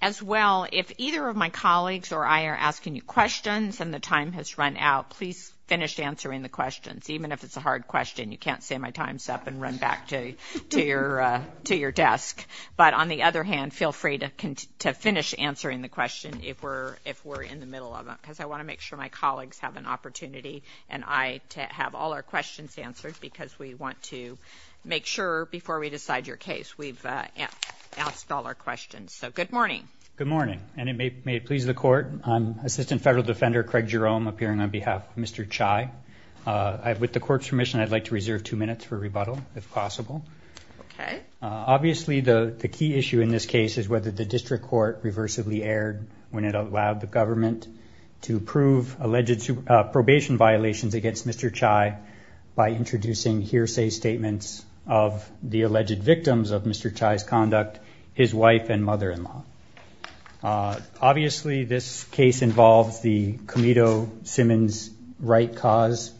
As well, if either of my colleagues or I are asking you questions and the time has run out, please finish answering the questions, even if it's a hard question. You can't say my time's up and run back to your desk. But on the other hand, feel free to finish answering the question if we're in the middle of it because I want to make sure my colleagues have an opportunity and I have all our questions answered because we want to make sure before we decide your case we've asked all our questions. So good morning. Good morning, and may it please the Court. I'm Assistant Federal Defender Craig Jerome, appearing on behalf of Mr. Cai. With the Court's permission, I'd like to reserve two minutes for rebuttal, if possible. Okay. Obviously, the key issue in this case is whether the district court reversibly erred when it allowed the government to prove alleged probation violations against Mr. Cai by introducing hearsay statements of the alleged victims of Mr. Cai's conduct, his wife and mother-in-law. Obviously, this case involves the Comedo-Simmons right cause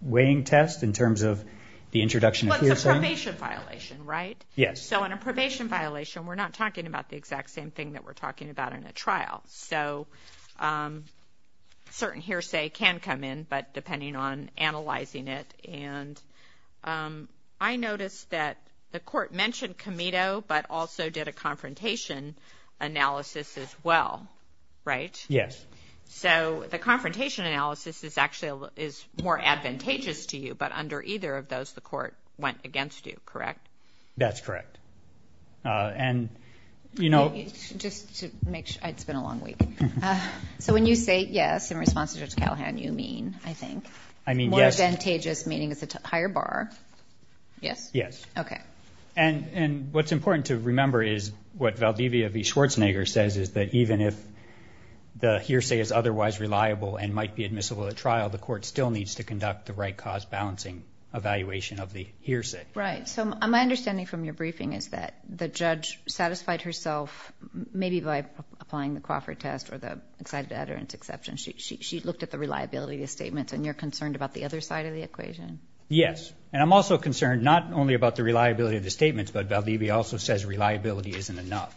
weighing test in terms of the introduction of hearsay. Well, it's a probation violation, right? Yes. So on a probation violation, we're not talking about the exact same thing that we're talking about in a trial. So certain hearsay can come in, but depending on analyzing it. And I noticed that the Court mentioned Comedo, but also did a confrontation analysis as well, right? Yes. So the confrontation analysis is actually more advantageous to you, but under either of those, the Court went against you, correct? That's correct. And, you know— Just to make sure, it's been a long week. So when you say yes in response to Judge Callahan, you mean, I think, more advantageous, meaning it's a higher bar. Yes. Okay. And what's important to remember is what Valdivia v. Schwarzenegger says, is that even if the hearsay is otherwise reliable and might be admissible at trial, the Court still needs to conduct the right cause balancing evaluation of the hearsay. Right. So my understanding from your briefing is that the judge satisfied herself, maybe by applying the Crawford test or the excited utterance exception. She looked at the reliability of the statements, and you're concerned about the other side of the equation? Yes. And I'm also concerned not only about the reliability of the statements, but Valdivia also says reliability isn't enough.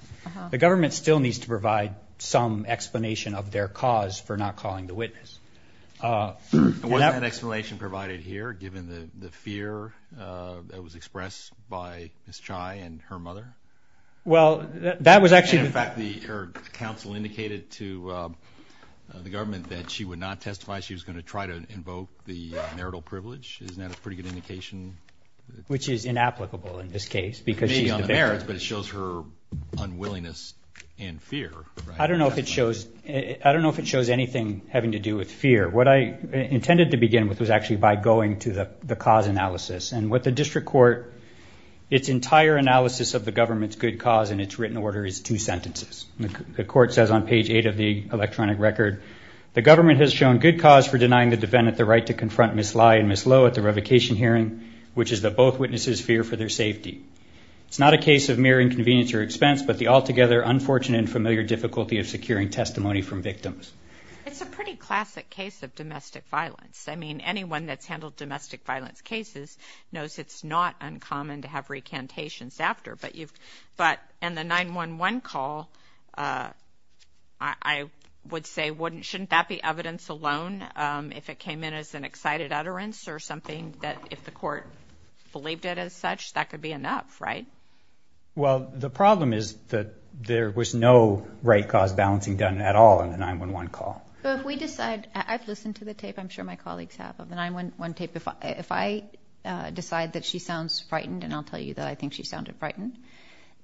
The government still needs to provide some explanation of their cause for not calling the witness. And wasn't that explanation provided here, given the fear that was expressed by Ms. Chai and her mother? Well, that was actually. And, in fact, her counsel indicated to the government that she would not testify. She was going to try to invoke the marital privilege. Isn't that a pretty good indication? Which is inapplicable in this case because she's the victim. But it shows her unwillingness and fear. I don't know if it shows anything having to do with fear. What I intended to begin with was actually by going to the cause analysis. And what the district court, its entire analysis of the government's good cause in its written order is two sentences. The court says on page 8 of the electronic record, the government has shown good cause for denying the defendant the right to confront Ms. Lye and Ms. Lowe at the revocation hearing, which is that both witnesses fear for their safety. It's not a case of mere inconvenience or expense, but the altogether unfortunate and familiar difficulty of securing testimony from victims. It's a pretty classic case of domestic violence. I mean, anyone that's handled domestic violence cases knows it's not uncommon to have recantations after. But in the 911 call, I would say, shouldn't that be evidence alone if it came in as an excited utterance or something that if the court believed it as such, that could be enough, right? Well, the problem is that there was no right cause balancing done at all in the 911 call. But if we decide, I've listened to the tape, I'm sure my colleagues have, of the 911 tape. If I decide that she sounds frightened, and I'll tell you that I think she sounded frightened,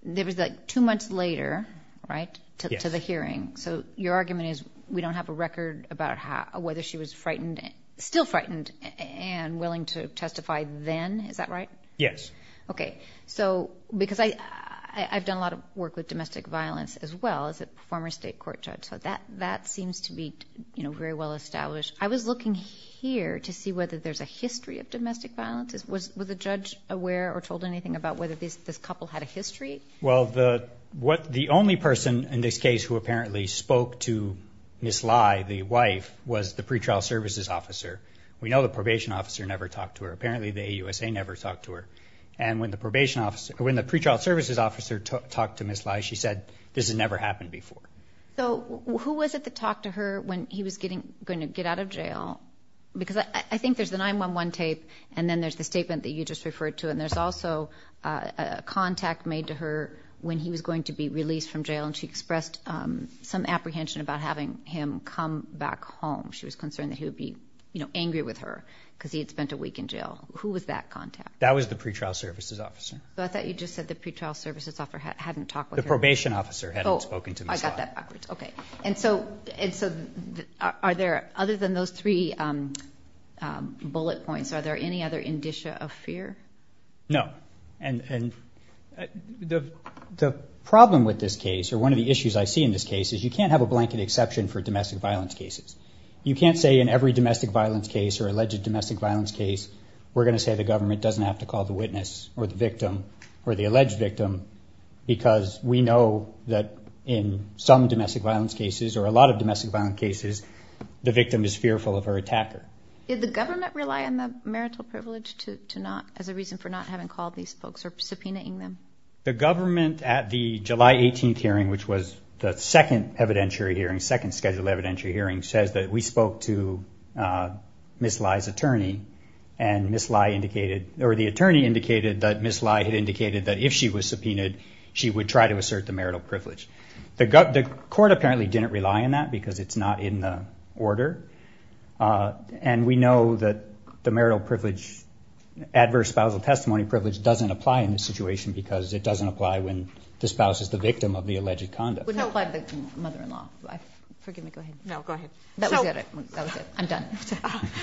there was like two months later, right, to the hearing. So your argument is we don't have a record about whether she was frightened, still frightened and willing to testify then, is that right? Yes. Okay. So because I've done a lot of work with domestic violence as well as a former state court judge, so that seems to be very well established. I was looking here to see whether there's a history of domestic violence. Was the judge aware or told anything about whether this couple had a history? Well, the only person in this case who apparently spoke to Ms. Lai, the wife, was the pretrial services officer. We know the probation officer never talked to her. Apparently the AUSA never talked to her. And when the pretrial services officer talked to Ms. Lai, she said, this has never happened before. So who was it that talked to her when he was going to get out of jail? Because I think there's the 911 tape, and then there's the statement that you just referred to, and there's also a contact made to her when he was going to be released from jail, and she expressed some apprehension about having him come back home. She was concerned that he would be angry with her because he had spent a week in jail. Who was that contact? That was the pretrial services officer. I thought you just said the pretrial services officer hadn't talked with her. The probation officer hadn't spoken to Ms. Lai. Oh, I got that backwards. Okay. And so are there, other than those three bullet points, are there any other indicia of fear? No. And the problem with this case, or one of the issues I see in this case, is you can't have a blanket exception for domestic violence cases. You can't say in every domestic violence case or alleged domestic violence case, we're going to say the government doesn't have to call the witness or the victim or the alleged victim because we know that in some domestic violence cases, or a lot of domestic violence cases, the victim is fearful of her attacker. Did the government rely on the marital privilege to not, as a reason for not having called these folks or subpoenaing them? The government, at the July 18th hearing, which was the second evidentiary hearing, second scheduled evidentiary hearing, says that we spoke to Ms. Lai's attorney, and Ms. Lai indicated, or the attorney indicated that Ms. Lai had indicated that if she was subpoenaed, she would try to assert the marital privilege. The court apparently didn't rely on that because it's not in the order, and we know that the marital privilege, adverse spousal testimony privilege, doesn't apply in this situation because it doesn't apply when the spouse is the victim of the alleged conduct. It wouldn't apply to the mother-in-law. Forgive me, go ahead. No, go ahead. That was it. I'm done.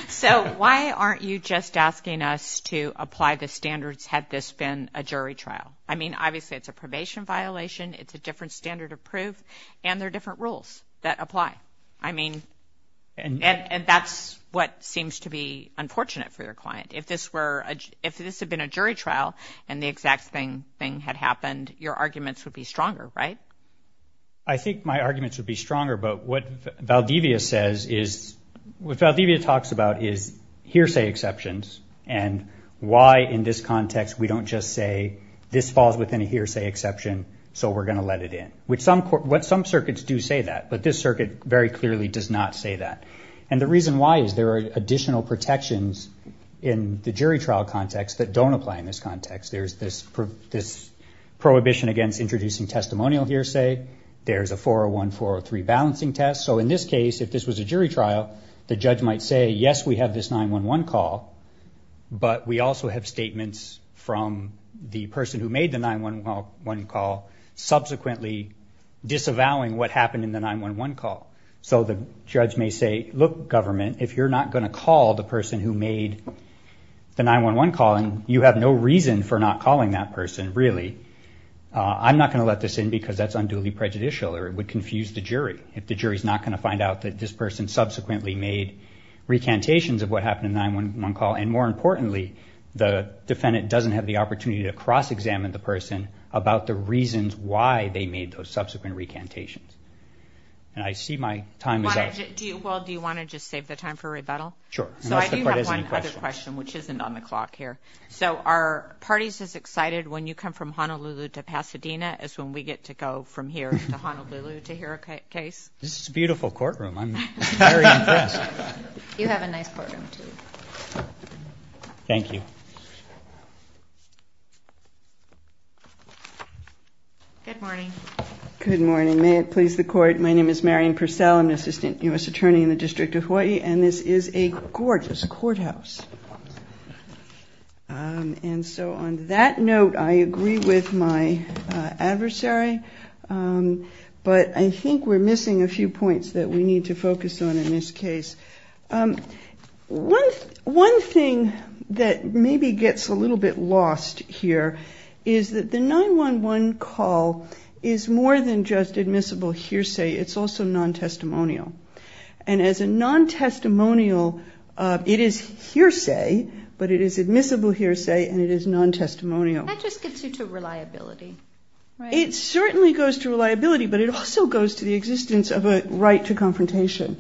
So why aren't you just asking us to apply the standards had this been a jury trial? I mean, obviously it's a probation violation, it's a different standard of proof, and there are different rules that apply. I mean, and that's what seems to be unfortunate for your client. If this had been a jury trial and the exact same thing had happened, your arguments would be stronger, right? I think my arguments would be stronger, but what Valdivia says is, what Valdivia talks about is hearsay exceptions and why in this context we don't just say this falls within a hearsay exception, so we're going to let it in. Some circuits do say that, but this circuit very clearly does not say that. And the reason why is there are additional protections in the jury trial context that don't apply in this context. There's this prohibition against introducing testimonial hearsay, there's a 401-403 balancing test. So in this case, if this was a jury trial, the judge might say, yes, we have this 911 call, but we also have statements from the person who made the 911 call, subsequently disavowing what happened in the 911 call. So the judge may say, look, government, if you're not going to call the person who made the 911 call, and you have no reason for not calling that person, really, I'm not going to let this in because that's unduly prejudicial or it would confuse the jury if the jury is not going to find out that this person subsequently made recantations of what happened in the 911 call, and more importantly, the defendant doesn't have the opportunity to cross-examine the person about the reasons why they made those subsequent recantations. And I see my time is up. Well, do you want to just save the time for rebuttal? Sure. So I do have one other question, which isn't on the clock here. So are parties as excited when you come from Honolulu to Pasadena as when we get to go from here to Honolulu to hear a case? This is a beautiful courtroom. I'm very impressed. You have a nice courtroom, too. Thank you. Good morning. Good morning. May it please the Court, my name is Marion Purcell. I'm an assistant U.S. attorney in the District of Hawaii, and this is a gorgeous courthouse. And so on that note, I agree with my adversary, but I think we're missing a few points that we need to focus on in this case. One thing that maybe gets a little bit lost here is that the 911 call is more than just admissible hearsay. It's also non-testimonial. And as a non-testimonial, it is hearsay, but it is admissible hearsay, and it is non-testimonial. That just gets you to reliability, right? It certainly goes to reliability, but it also goes to the existence of a right to confrontation.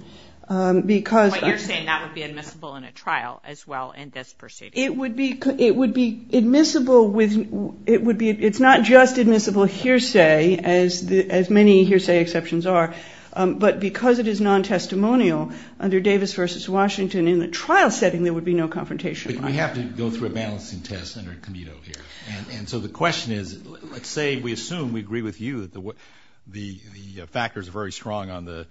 But you're saying that would be admissible in a trial as well in this proceeding? It's not just admissible hearsay, as many hearsay exceptions are, but because it is non-testimonial under Davis v. Washington, in a trial setting there would be no confrontation. But we have to go through a balancing test under Comito here. And so the question is, let's say we assume, we agree with you, that the factors are very strong on the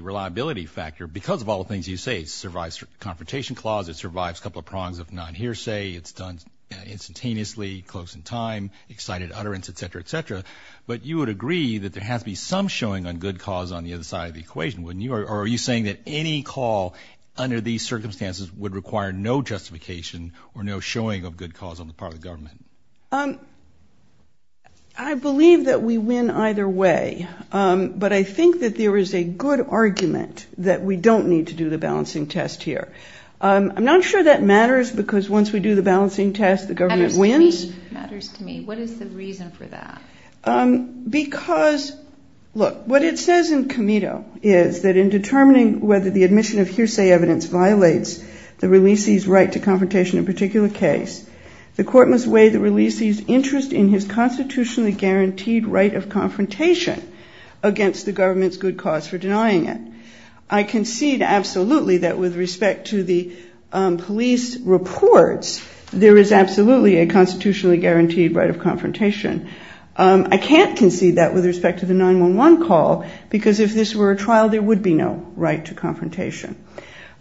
reliability factor. Because of all the things you say, it survives confrontation clause, it survives a couple of prongs of non-hearsay, it's done instantaneously, close in time, excited utterance, et cetera, et cetera. But you would agree that there has to be some showing on good cause on the other side of the equation, wouldn't you? Or are you saying that any call under these circumstances would require no justification or no showing of good cause on the part of the government? I believe that we win either way. But I think that there is a good argument that we don't need to do the balancing test here. I'm not sure that matters, because once we do the balancing test, the government wins. What is the reason for that? Because, look, what it says in Comito is that in determining whether the admission of hearsay evidence violates the releasee's right to confrontation in a particular case, the court must weigh the releasee's interest in his constitutionally guaranteed right of confrontation against the government's good cause for denying it. I concede absolutely that with respect to the police reports, there is absolutely a constitutionally guaranteed right of confrontation. I can't concede that with respect to the 911 call, because if this were a trial there would be no right to confrontation.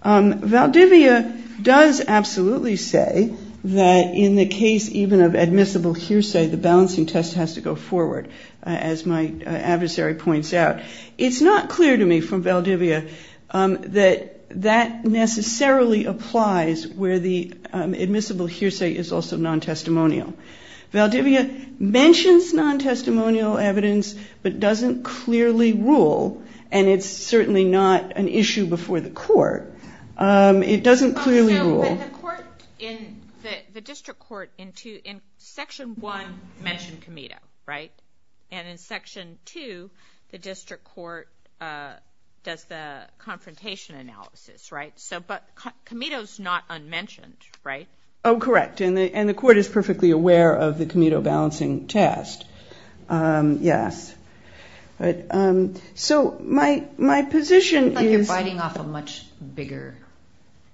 Valdivia does absolutely say that in the case even of admissible hearsay, the balancing test has to go forward, as my adversary points out. But it's not clear to me from Valdivia that that necessarily applies where the admissible hearsay is also non-testimonial. Valdivia mentions non-testimonial evidence but doesn't clearly rule, and it's certainly not an issue before the court. It doesn't clearly rule. The district court in Section 1 mentioned Comito, right? And in Section 2, the district court does the confrontation analysis, right? But Comito is not unmentioned, right? Oh, correct. And the court is perfectly aware of the Comito balancing test. Yes. So my position is ‑‑ I'm cutting off a much bigger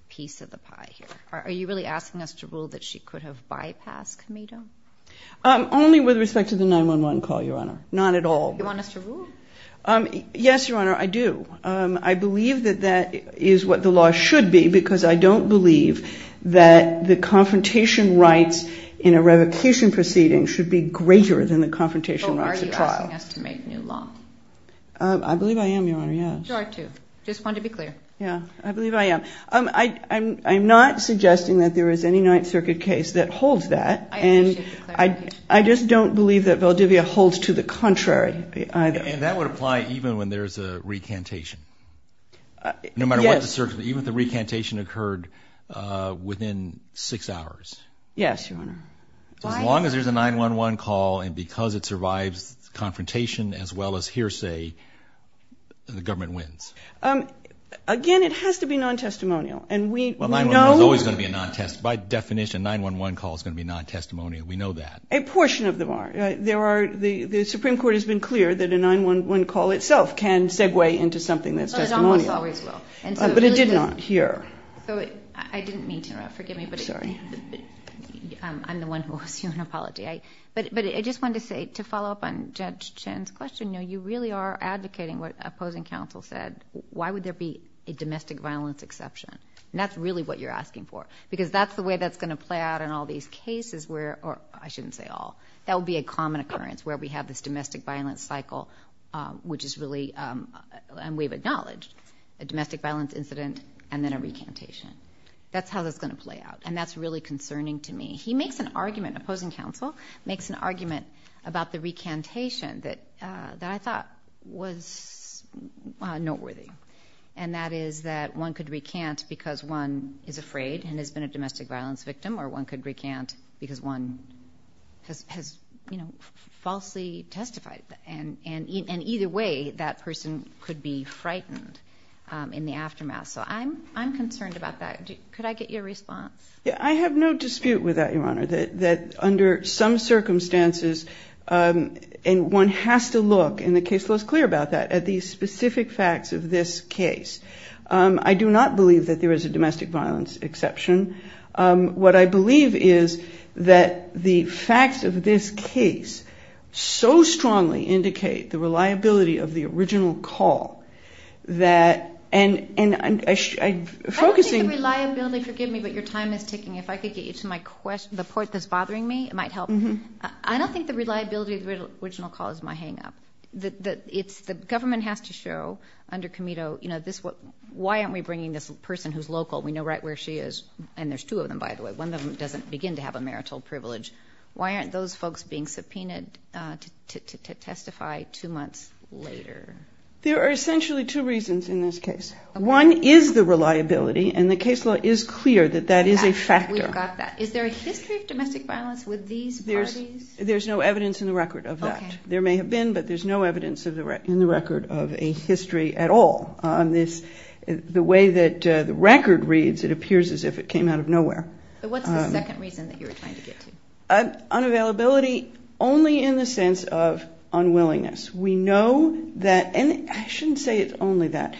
piece of the pie here. Are you really asking us to rule that she could have bypassed Comito? Only with respect to the 911 call, Your Honor, not at all. You want us to rule? Yes, Your Honor, I do. I believe that that is what the law should be because I don't believe that the confrontation rights in a revocation proceeding should be greater than the confrontation rights at trial. So are you asking us to make new law? I believe I am, Your Honor, yes. Sure, too. Just wanted to be clear. Yeah, I believe I am. I'm not suggesting that there is any Ninth Circuit case that holds that. I appreciate the clarification. I just don't believe that Valdivia holds to the contrary either. And that would apply even when there's a recantation? Yes. No matter what the circuit, even if the recantation occurred within six hours? Yes, Your Honor. As long as there's a 911 call and because it survives confrontation as well as hearsay, the government wins. Again, it has to be non-testimonial. By definition, a 911 call is going to be non-testimonial. We know that. A portion of them are. The Supreme Court has been clear that a 911 call itself can segue into something that's testimonial. It almost always will. But it did not here. I didn't mean to interrupt. Forgive me. I'm sorry. I'm the one who will assume an apology. But I just wanted to follow up on Judge Chen's question. You really are advocating what opposing counsel said. Why would there be a domestic violence exception? And that's really what you're asking for. Because that's the way that's going to play out in all these cases where, or I shouldn't say all, that would be a common occurrence where we have this domestic violence cycle which is really, and we've acknowledged, a domestic violence incident and then a recantation. That's how that's going to play out. And that's really concerning to me. He makes an argument, opposing counsel, makes an argument about the recantation that I thought was noteworthy. And that is that one could recant because one is afraid and has been a domestic violence victim or one could recant because one has falsely testified. And either way, that person could be frightened in the aftermath. So I'm concerned about that. Could I get your response? I have no dispute with that, Your Honor, that under some circumstances, and one has to look, and the case law is clear about that, at the specific facts of this case. I do not believe that there is a domestic violence exception. What I believe is that the facts of this case so strongly indicate the your time is ticking. If I could get you to the part that's bothering me, it might help. I don't think the reliability of the original call is my hang-up. The government has to show under Comito, why aren't we bringing this person who's local? We know right where she is, and there's two of them, by the way. One of them doesn't begin to have a marital privilege. Why aren't those folks being subpoenaed to testify two months later? There are essentially two reasons in this case. One is the reliability, and the case law is clear that that is a factor. We've got that. Is there a history of domestic violence with these parties? There's no evidence in the record of that. There may have been, but there's no evidence in the record of a history at all. The way that the record reads, it appears as if it came out of nowhere. What's the second reason that you were trying to get to? Unavailability only in the sense of unwillingness. We know that, and I shouldn't say it's only that.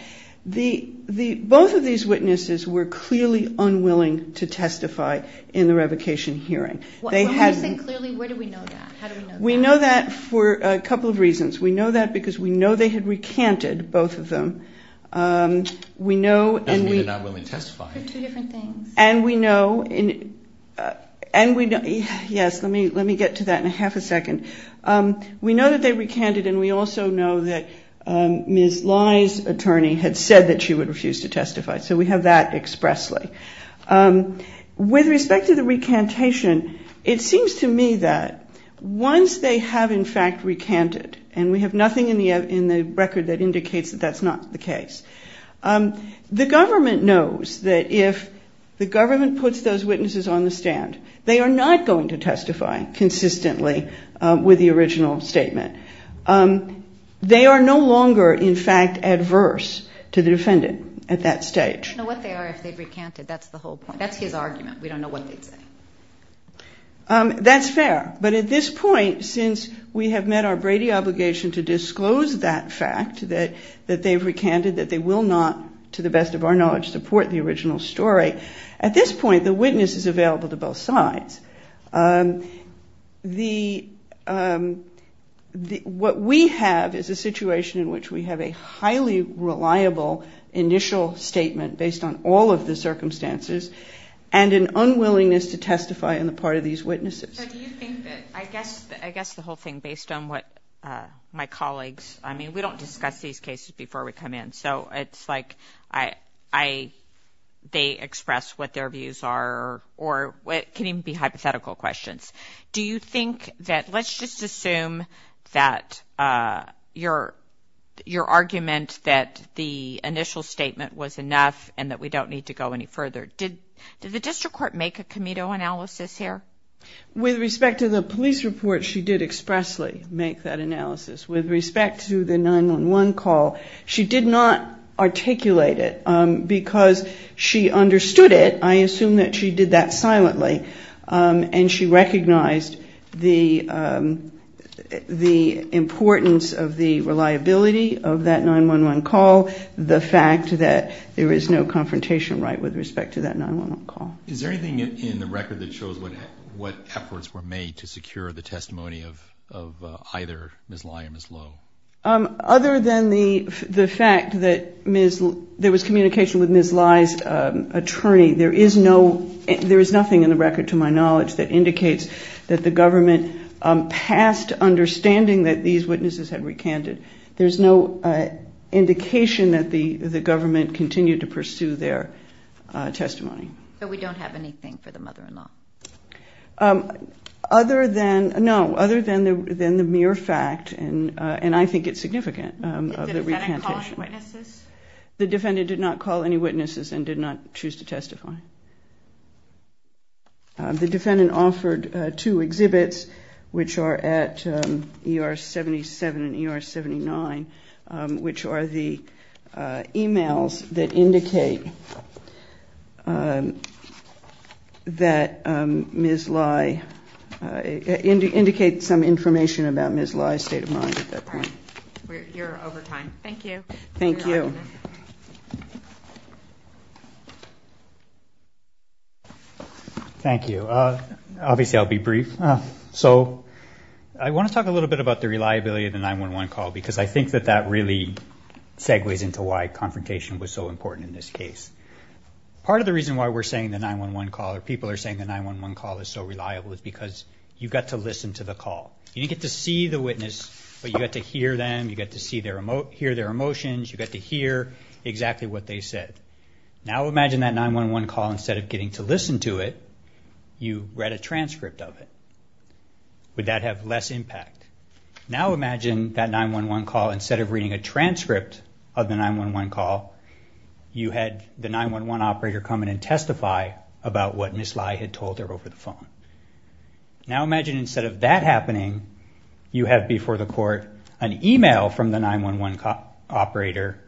Both of these witnesses were clearly unwilling to testify in the revocation hearing. When you say clearly, where do we know that? How do we know that? We know that for a couple of reasons. We know that because we know they had recanted, both of them. Doesn't mean they're not willing to testify. For two different things. Yes, let me get to that in half a second. We know that they recanted, and we also know that Ms. Lai's attorney had said that she would refuse to testify. So we have that expressly. With respect to the recantation, it seems to me that once they have, in fact, recanted, and we have nothing in the record that indicates that that's not the case, the government knows that if the government puts those witnesses on the stand, they are not going to testify consistently with the original statement. They are no longer, in fact, adverse to the defendant at that stage. You know what they are if they've recanted. That's the whole point. That's his argument. We don't know what they'd say. That's fair. But at this point, since we have met our Brady obligation to disclose that fact, that they've recanted, that they will not, to the best of our knowledge, support the original story, at this point the witness is available to both sides. What we have is a situation in which we have a highly reliable initial statement based on all of the circumstances and an unwillingness to testify on the part of these witnesses. So do you think that, I guess the whole thing based on what my colleagues, I mean, we don't discuss these cases before we come in. So it's like they express what their views are or it can even be hypothetical questions. Do you think that let's just assume that your argument that the initial statement was enough and that we don't need to go any further. Did the district court make a committee analysis here? With respect to the police report, she did expressly make that analysis. With respect to the 911 call, she did not articulate it because she understood it. I assume that she did that silently. And she recognized the importance of the reliability of that 911 call, the fact that there is no confrontation right with respect to that 911 call. Is there anything in the record that shows what efforts were made to secure the testimony of either Ms. Lye and Ms. Lowe? Other than the fact that there was communication with Ms. Lye's attorney, there is nothing in the record, to my knowledge, that indicates that the government passed understanding that these witnesses had recanted. There's no indication that the government continued to pursue their testimony. But we don't have anything for the mother-in-law. Other than the mere fact, and I think it's significant, of the repantation. Did the defendant call any witnesses? The defendant did not call any witnesses and did not choose to testify. The defendant offered two exhibits, which are at ER 77 and ER 79, which are the emails that indicate that Ms. Lye, indicate some information about Ms. Lye's state of mind at that time. You're over time. Thank you. Thank you. Thank you. Obviously I'll be brief. So I want to talk a little bit about the reliability of the 911 call because I think that that really segues into why confrontation was so important in this case. Part of the reason why we're saying the 911 call, or people are saying the 911 call is so reliable, is because you got to listen to the call. You didn't get to see the witness, but you got to hear them. You got to hear their emotions. You got to hear exactly what they said. Now imagine that 911 call, instead of getting to listen to it, you read a transcript of it. Would that have less impact? Now imagine that 911 call, instead of reading a transcript of the 911 call, you had the 911 operator come in and testify about what Ms. Lye had told her over the phone. Now imagine instead of that happening, you have before the court an email from the 911 operator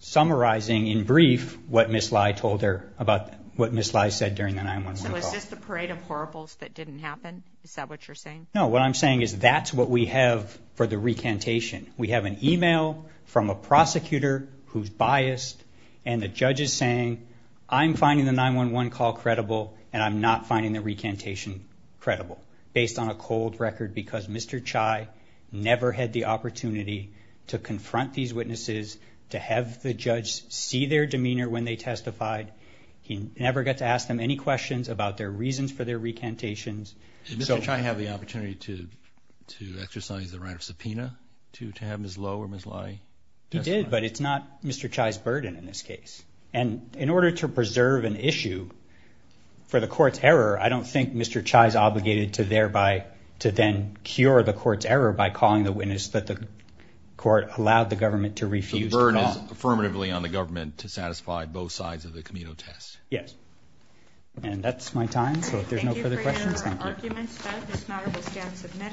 summarizing in brief what Ms. Lye told her about what Ms. Lye said during the 911 call. So it's just a parade of horribles that didn't happen? Is that what you're saying? No, what I'm saying is that's what we have for the recantation. We have an email from a prosecutor who's biased, and the judge is saying I'm finding the 911 call credible, and I'm not finding the recantation credible based on a cold record because Mr. Chai never had the opportunity to confront these witnesses, to have the judge see their demeanor when they testified. He never got to ask them any questions about their reasons for their recantations. Did Mr. Chai have the opportunity to exercise the right of subpoena to have Ms. Lowe or Ms. Lye testify? He did, but it's not Mr. Chai's burden in this case. And in order to preserve an issue for the court's error, I don't think Mr. Chai is obligated to then cure the court's error by calling the witness that the court allowed the government to refuse to call. So the burden is affirmatively on the government to satisfy both sides of the Camino test? Yes. And that's my time, so if there's no further questions, thank you. Are there any other arguments? If not, it will stand submitted.